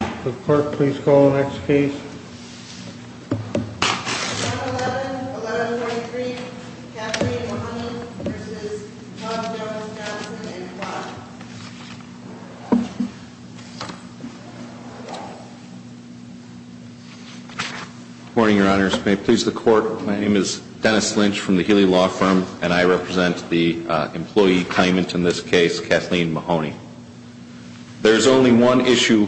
The court, please call the next case. 11-11, 11-23, Kathleen Mahoney v. Tom Dennis Johnson and Clyde. Good morning, Your Honors. May it please the court, my name is Dennis Lynch from the Healy Law Firm, and I represent the employee claimant in this case, Kathleen Mahoney. There is only one issue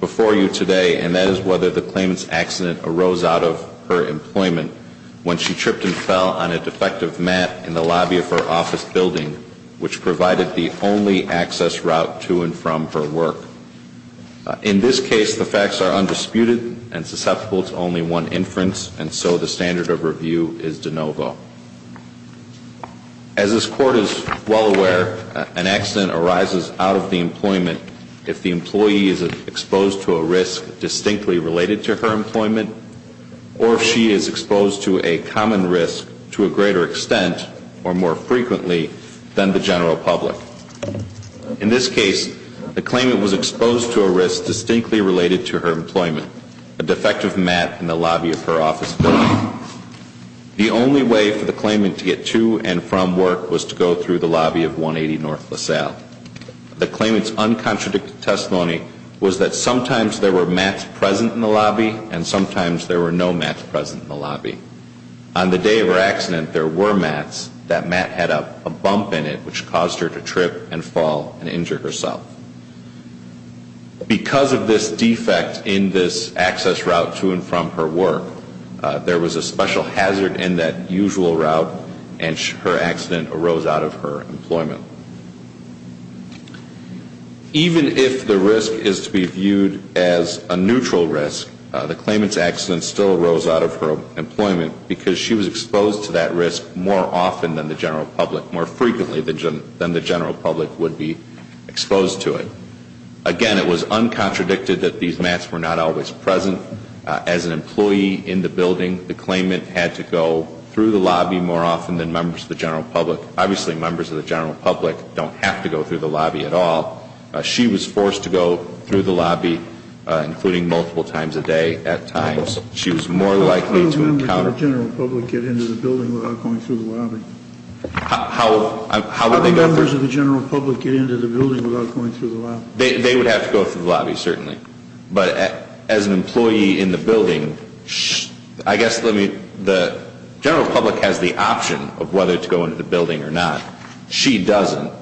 before you today, and that is whether the claimant's accident arose out of her employment when she tripped and fell on a defective mat in the lobby of her office building, which provided the only access route to and from her work. In this case, the facts are undisputed and susceptible to only one inference, and so the standard of review is de novo. As this court is well aware, an accident arises out of the employment if the employee is exposed to a risk distinctly related to her employment, or if she is exposed to a common risk to a greater extent, or more frequently, than the general public. In this case, the claimant was exposed to a risk distinctly related to her employment, a defective mat in the lobby of her office building. The only way for the claimant to get to and from work was to go through the lobby of 180 North LaSalle. The claimant's uncontradicted testimony was that sometimes there were mats present in the lobby, and sometimes there were no mats present in the lobby. On the day of her accident, there were mats, that mat had a bump in it which caused her to trip and fall and injure herself. Because of this defect in this access route to and from her work, there was a special hazard in that usual route, and her accident arose out of her employment. Even if the risk is to be viewed as a neutral risk, the claimant's accident still arose out of her employment because she was exposed to that risk more often than the general public, more frequently than the general public would be exposed to it. Again, it was uncontradicted that these mats were not always present. As an employee in the building, the claimant had to go through the lobby more often than members of the general public. Obviously, members of the general public don't have to go through the lobby at all. She was forced to go through the lobby, including multiple times a day at times. She was more likely to encounter... How would members of the general public get into the building without going through the lobby? How would they go through... How would members of the general public get into the building without going through the lobby? They would have to go through the lobby, certainly. But as an employee in the building, I guess the general public has the option of whether to go into the building or not. She doesn't.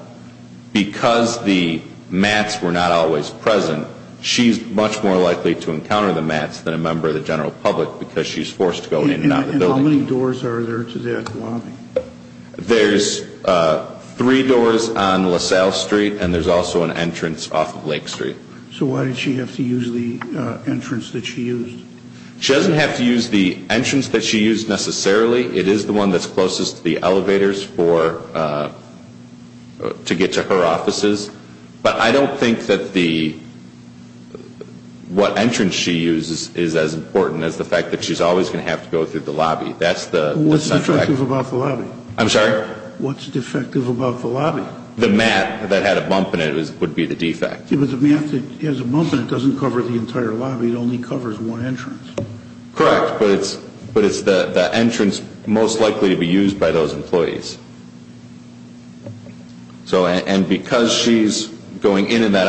Because the mats were not always present, she's much more likely to encounter the mats than a member of the general public because she's forced to go in and out of the building. And how many doors are there to that lobby? There's three doors on LaSalle Street, and there's also an entrance off of Lake Street. So why did she have to use the entrance that she used? She doesn't have to use the entrance that she used necessarily. It is the one that's closest to the elevators to get to her offices. But I don't think that what entrance she used is as important as the fact that she's always going to have to go through the lobby. That's the... What's defective about the lobby? I'm sorry? What's defective about the lobby? The mat that had a bump in it would be the defect. The mat that has a bump in it doesn't cover the entire lobby. It only covers one entrance. Correct, but it's the entrance most likely to be used by those employees. And because she's going in and out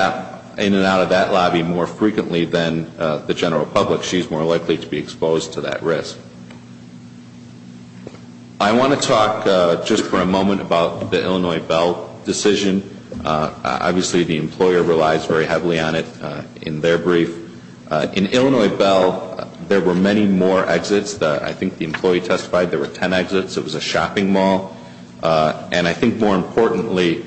of that lobby more frequently than the general public, she's more likely to be exposed to that risk. I want to talk just for a moment about the Illinois Bell decision. Obviously, the employer relies very heavily on it in their brief. In Illinois Bell, there were many more exits. I think the employee testified there were 10 exits. It was a shopping mall. And I think more importantly,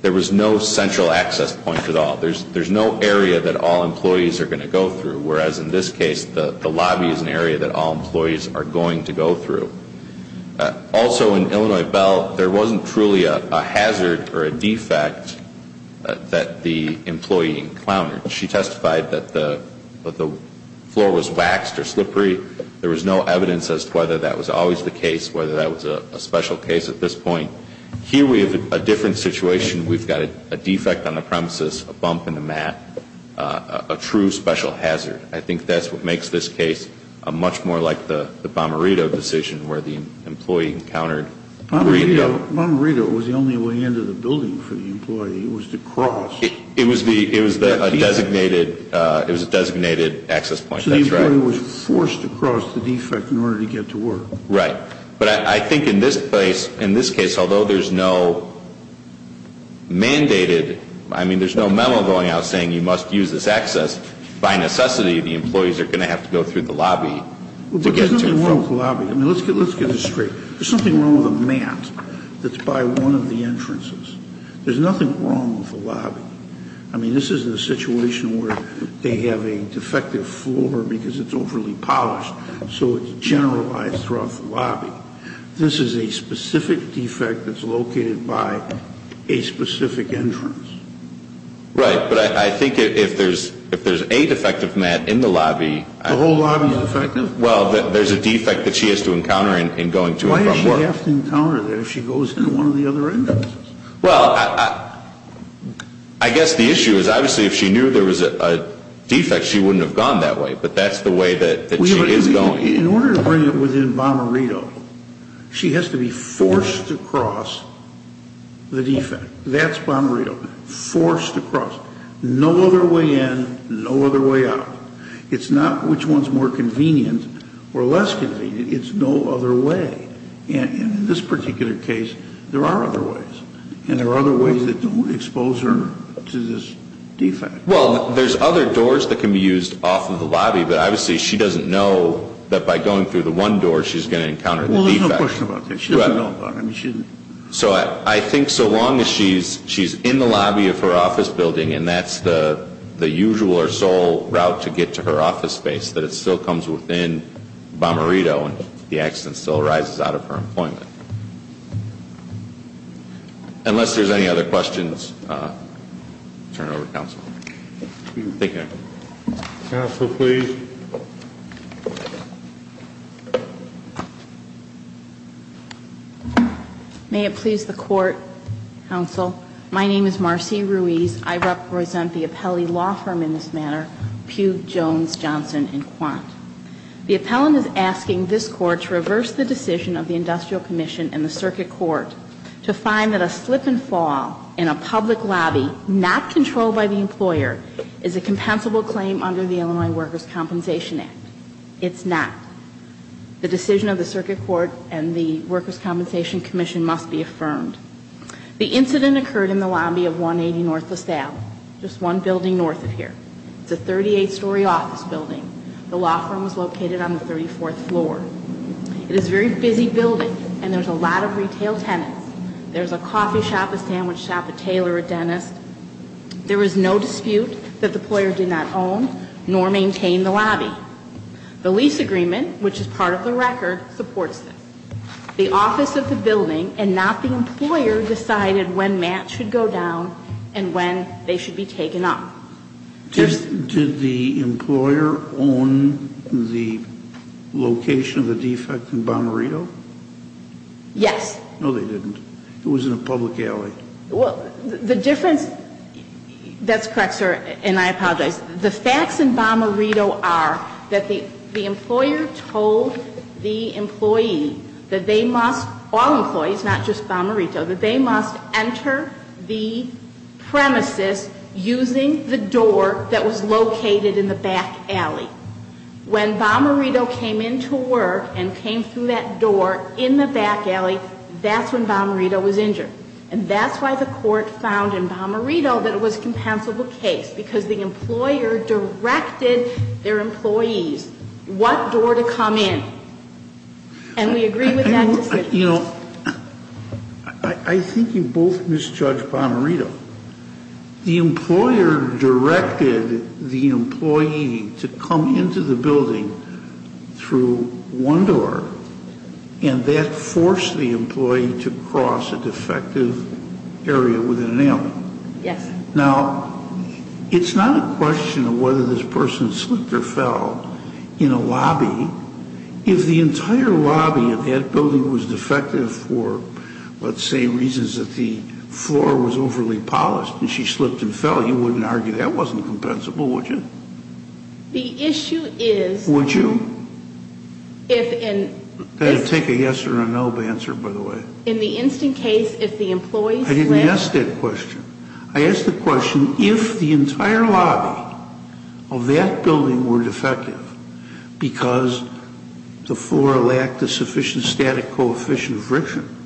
there was no central access point at all. There's no area that all employees are going to go through, whereas in this case, the lobby is an area that all employees are going to go through. Also, in Illinois Bell, there wasn't truly a hazard or a defect that the employee encountered. She testified that the floor was waxed or slippery. There was no evidence as to whether that was always the case, whether that was a special case at this point. Here, we have a different situation. We've got a defect on the premises, a bump in the mat, a true special hazard. I think that's what makes this case much more like the Bomarito decision where the employee encountered. Bomarito was the only way into the building for the employee. It was to cross. It was a designated access point. That's right. So the employee was forced to cross the defect in order to get to work. Right. But I think in this case, although there's no mandated, I mean, there's no memo going out saying you must use this access, by necessity the employees are going to have to go through the lobby. There's nothing wrong with the lobby. I mean, let's get this straight. There's something wrong with the mat that's by one of the entrances. There's nothing wrong with the lobby. I mean, this isn't a situation where they have a defective floor because it's overly polished, so it's generalized throughout the lobby. This is a specific defect that's located by a specific entrance. Right. But I think if there's a defective mat in the lobby. The whole lobby is defective? Well, there's a defect that she has to encounter in going to and from work. Why does she have to encounter that if she goes in one of the other entrances? Well, I guess the issue is obviously if she knew there was a defect, she wouldn't have gone that way, but that's the way that she is going. In order to bring it within Bomarito, she has to be forced to cross the defect. That's Bomarito. Forced to cross. No other way in, no other way out. It's not which one's more convenient or less convenient. It's no other way. And in this particular case, there are other ways. And there are other ways that don't expose her to this defect. Well, there's other doors that can be used off of the lobby, but obviously she doesn't know that by going through the one door she's going to encounter the defect. Well, there's no question about that. She doesn't know about it. So I think so long as she's in the lobby of her office building and that's the usual or sole route to get to her office space, that it still comes within Bomarito and the accident still arises out of her employment. Unless there's any other questions, I'll turn it over to counsel. Counsel, please. May it please the Court, Counsel. My name is Marcy Ruiz. I represent the Appellee Law Firm in this matter, Pugh, Jones, Johnson, and Quant. The appellant is asking this Court to reverse the decision of the Industrial Commission and the Circuit Court to find that a slip and fall in a public lobby, not controlled by the employer, is a compensable claim under the Illinois Workers' Compensation Act. It's not. The decision of the Circuit Court and the Workers' Compensation Commission must be affirmed. The incident occurred in the lobby of 180 North La Salle, just one building north of here. It's a 38-story office building. The law firm is located on the 34th floor. It is a very busy building and there's a lot of retail tenants. There's a coffee shop, a sandwich shop, a tailor, a dentist. There is no dispute that the employer did not own nor maintain the lobby. The lease agreement, which is part of the record, supports this. The office of the building and not the employer decided when match should go down and when they should be taken up. Did the employer own the location of the defect in Bomarito? Yes. No, they didn't. It was in a public alley. Well, the difference, that's correct, sir, and I apologize. The facts in Bomarito are that the employer told the employee that they must, all employees, not just Bomarito, that they must enter the premises using the door that was located in the back alley. When Bomarito came into work and came through that door in the back alley, that's when Bomarito was injured. And that's why the court found in Bomarito that it was a compensable case, because the employer directed their employees what door to come in. And we agree with that decision. You know, I think you both misjudged Bomarito. The employer directed the employee to come into the building through one door, and that forced the employee to cross a defective area with an ailment. Yes. Now, it's not a question of whether this person slipped or fell in a lobby. If the entire lobby of that building was defective for, let's say, reasons that the floor was overly polished and she slipped and fell, you wouldn't argue that wasn't compensable, would you? The issue is... Would you? That would take a yes or a no answer, by the way. In the instant case, if the employee slipped... I didn't ask that question. I asked the question, if the entire lobby of that building were defective because the floor lacked a sufficient static coefficient of friction,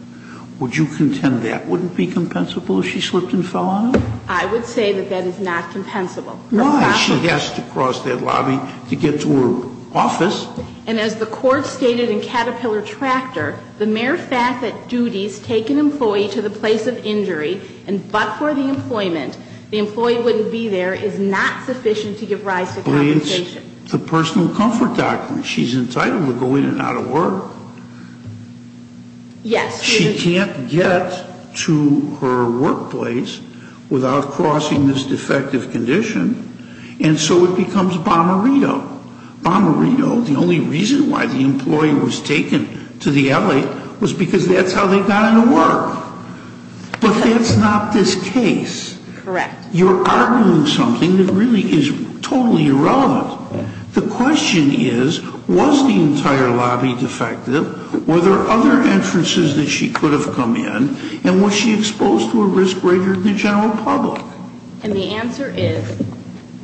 would you contend that wouldn't be compensable if she slipped and fell on it? I would say that that is not compensable. Why? She has to cross that lobby to get to her office. And as the Court stated in Caterpillar Tractor, the mere fact that duties take an employee to the place of injury and but for the employment, the employee wouldn't be there is not sufficient to give rise to compensation. It's a personal comfort document. She's entitled to go in and out of work. Yes. She can't get to her workplace without crossing this defective condition. And so it becomes bomberito. Bomberito, the only reason why the employee was taken to the LA was because that's how they got into work. But that's not this case. Correct. You're arguing something that really is totally irrelevant. The question is, was the entire lobby defective? Were there other entrances that she could have come in? And was she exposed to a risk greater than the general public? And the answer is,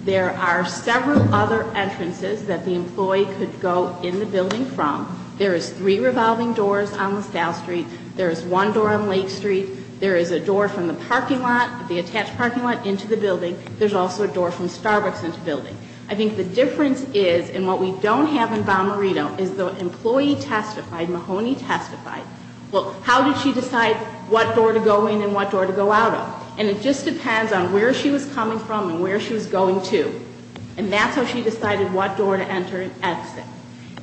there are several other entrances that the employee could go in the building from. There is three revolving doors on LaSalle Street. There is one door on Lake Street. There is a door from the parking lot, the attached parking lot, into the building. There's also a door from Starbucks into the building. I think the difference is, and what we don't have in bomberito, is the employee testified, Mahoney testified. Well, how did she decide what door to go in and what door to go out of? And it just depends on where she was coming from and where she was going to. And that's how she decided what door to enter and exit.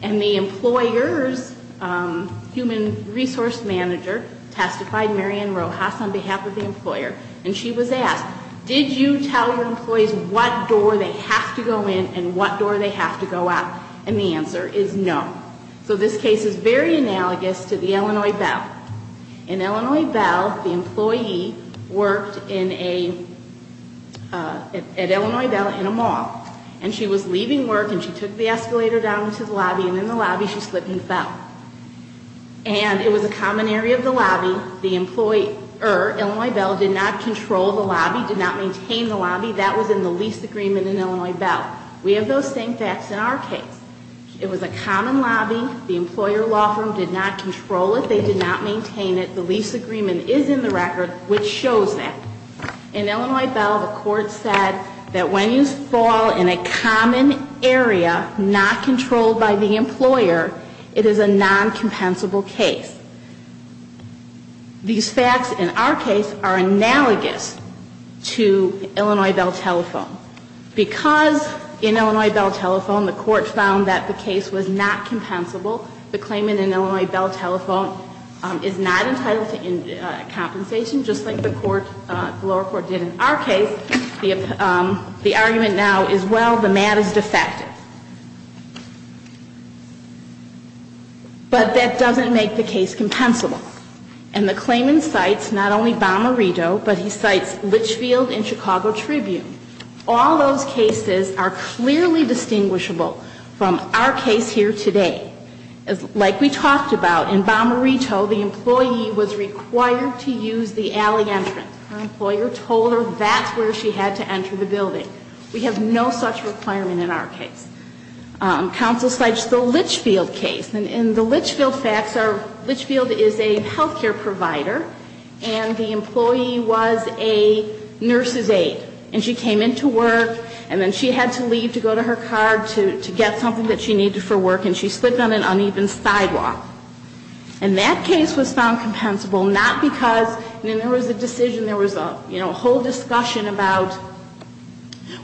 And the employer's human resource manager testified, Marian Rojas, on behalf of the employer. And she was asked, did you tell your employees what door they have to go in and what door they have to go out? And the answer is no. So this case is very analogous to the Illinois Belle. In Illinois Belle, the employee worked in a, at Illinois Belle, in a mall. And she was leaving work and she took the escalator down to the lobby, and in the lobby she slipped and fell. And it was a common area of the lobby. The employer, Illinois Belle, did not control the lobby, did not maintain the lobby. That was in the lease agreement in Illinois Belle. We have those same facts in our case. It was a common lobby. The employer law firm did not control it. They did not maintain it. The lease agreement is in the record, which shows that. In Illinois Belle, the court said that when you fall in a common area not controlled by the employer, it is a non-compensable case. These facts in our case are analogous to Illinois Belle Telephone. Because in Illinois Belle Telephone, the court found that the case was not compensable, the claimant in Illinois Belle Telephone is not entitled to compensation, just like the lower court did in our case. The argument now is, well, the mat is defective. But that doesn't make the case compensable. And the claimant cites not only Bommarito, but he cites Litchfield and Chicago Tribune. All those cases are clearly distinguishable from our case here today. Like we talked about, in Bommarito, the employee was required to use the alley entrance. Her employer told her that's where she had to enter the building. We have no such requirement in our case. Counsel cites the Litchfield case. In the Litchfield facts, Litchfield is a health care provider, and the employee was a nurse's aide. And she came into work, and then she had to leave to go to her car to get something that she needed for work, and she slipped on an uneven sidewalk. And that case was found compensable, not because, I mean, there was a decision, there was a whole discussion about,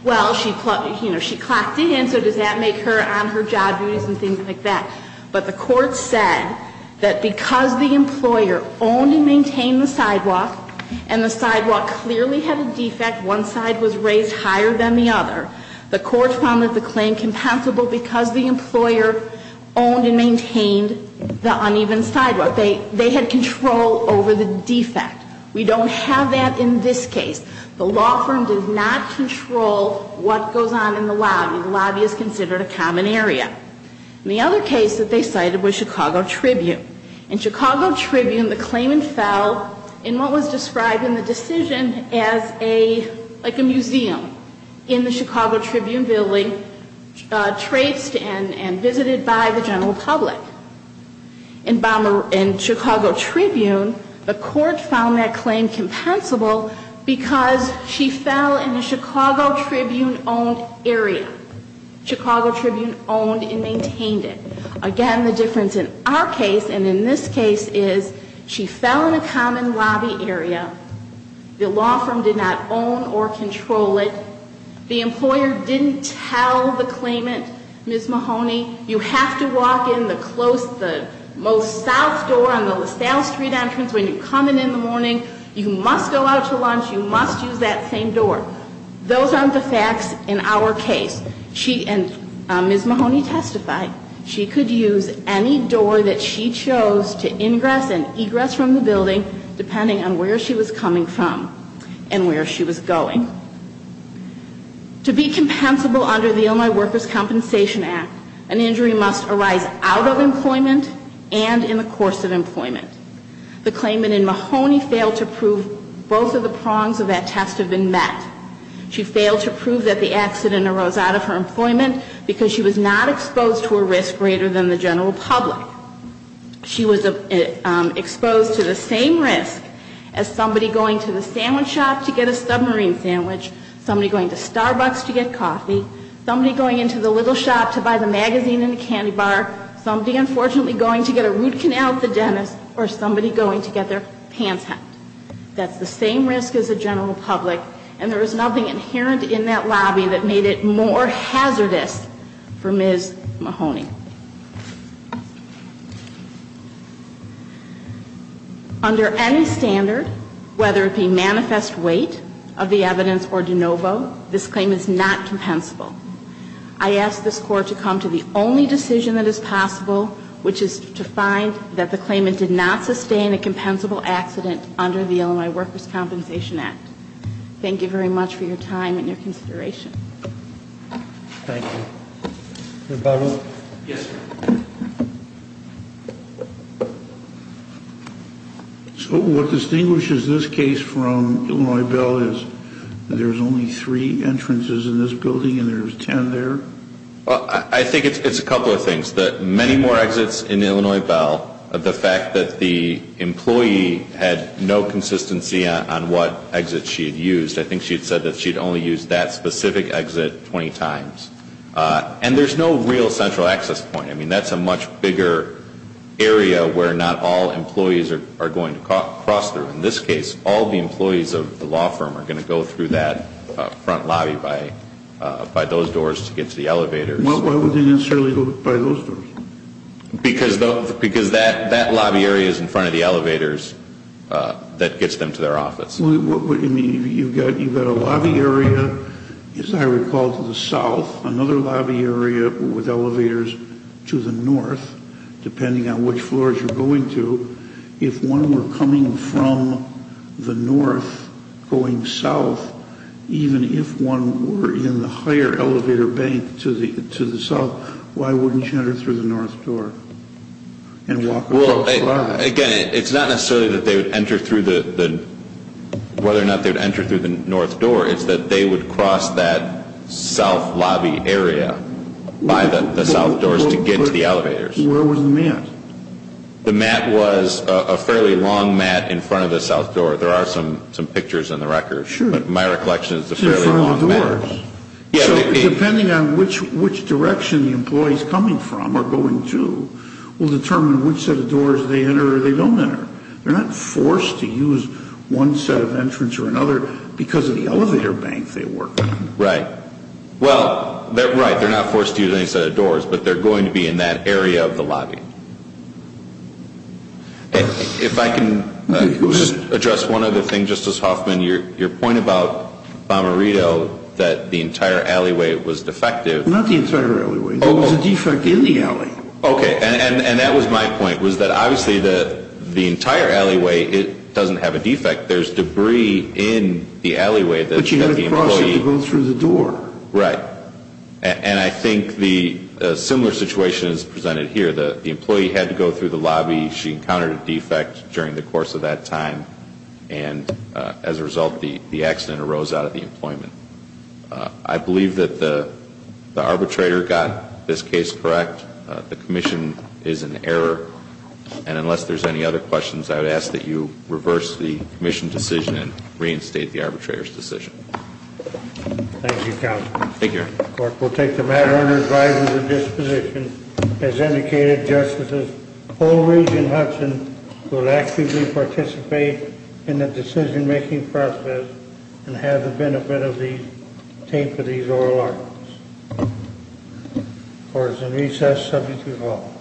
well, she clocked it in, so does that make her on her job duties and things like that? But the court said that because the employer owned and maintained the sidewalk, and the sidewalk clearly had a defect, one side was raised higher than the other, the court found that the claim compensable because the employer owned and maintained the uneven sidewalk. They had control over the defect. We don't have that in this case. The law firm does not control what goes on in the lobby. The lobby is considered a common area. And the other case that they cited was Chicago Tribune. In Chicago Tribune, the claimant fell in what was described in the decision as a, like a museum in the Chicago Tribune building, traced and visited by the general public. In Chicago Tribune, the court found that claim compensable because she fell in a Chicago Tribune-owned area. Chicago Tribune owned and maintained it. Again, the difference in our case and in this case is she fell in a common lobby area. The law firm did not own or control it. The employer didn't tell the claimant, Ms. Mahoney, you have to walk in the most south door on the LaSalle Street entrance when you come in in the morning. You must go out to lunch. You must use that same door. Those aren't the facts in our case. She, and Ms. Mahoney testified, she could use any door that she chose to ingress and egress from the building, depending on where she was coming from and where she was going. To be compensable under the Illinois Workers' Compensation Act, an injury must arise out of employment and in the course of employment. The claimant and Mahoney failed to prove both of the prongs of that test have been met. She failed to prove that the accident arose out of her employment because she was not exposed to a risk greater than the general public. She was exposed to the same risk as somebody going to the sandwich shop to get a submarine sandwich, somebody going to Starbucks to get coffee, somebody going into the little shop to buy the magazine and the candy bar, somebody, unfortunately, going to get a root canal at the dentist, or somebody going to get their pants hacked. That's the same risk as the general public. And there was nothing inherent in that lobby that made it more hazardous for Ms. Mahoney. Under any standard, whether it be manifest weight of the evidence or de novo, this claim is not compensable. I ask this Court to come to the only decision that is possible, which is to find that the claimant did not sustain a compensable accident under the Illinois Workers' Compensation Act. Thank you very much for your time and your consideration. Thank you. Mr. Butler? Yes, sir. So what distinguishes this case from Illinois Bell is there's only three entrances in this building and there's ten there? Well, I think it's a couple of things. The many more exits in Illinois Bell, the fact that the employee had no consistency on what exit she had used, I think she had said that she had only used that specific exit 20 times. And there's no real central access point. I mean, that's a much bigger area where not all employees are going to cross through. In this case, all the employees of the law firm are going to go through that front lobby by those doors to get to the elevator. Why would they necessarily go by those doors? Because that lobby area is in front of the elevators that gets them to their office. You've got a lobby area, as I recall, to the south, another lobby area with elevators to the north, depending on which floors you're going to. If one were coming from the north going south, even if one were in the higher elevator bank to the south, why wouldn't you enter through the north door? Well, again, it's not necessarily whether or not they would enter through the north door. It's that they would cross that south lobby area by the south doors to get to the elevators. Where was the mat? The mat was a fairly long mat in front of the south door. There are some pictures in the records. Sure. But my recollection is it's a fairly long mat. So depending on which direction the employees coming from are going to will determine which set of doors they enter or they don't enter. They're not forced to use one set of entrance or another because of the elevator bank they work on. Right. Well, right, they're not forced to use any set of doors, but they're going to be in that area of the lobby. If I can address one other thing, Justice Hoffman. Your point about Bomarito, that the entire alleyway was defective. Not the entire alleyway. There was a defect in the alley. Okay. And that was my point, was that obviously the entire alleyway doesn't have a defect. There's debris in the alleyway. But you had to cross it to go through the door. Right. And I think the similar situation is presented here. The employee had to go through the lobby. She encountered a defect during the course of that time. And as a result, the accident arose out of the employment. I believe that the arbitrator got this case correct. The commission is in error. And unless there's any other questions, I would ask that you reverse the commission decision and reinstate the arbitrator's decision. Thank you, Counsel. Thank you, Your Honor. The court will take the matter under advisory of the disposition. As indicated, Justices Polridge and Hudson will actively participate in the decision-making process and have the benefit of these oral arguments. The court is in recess. Subject to call.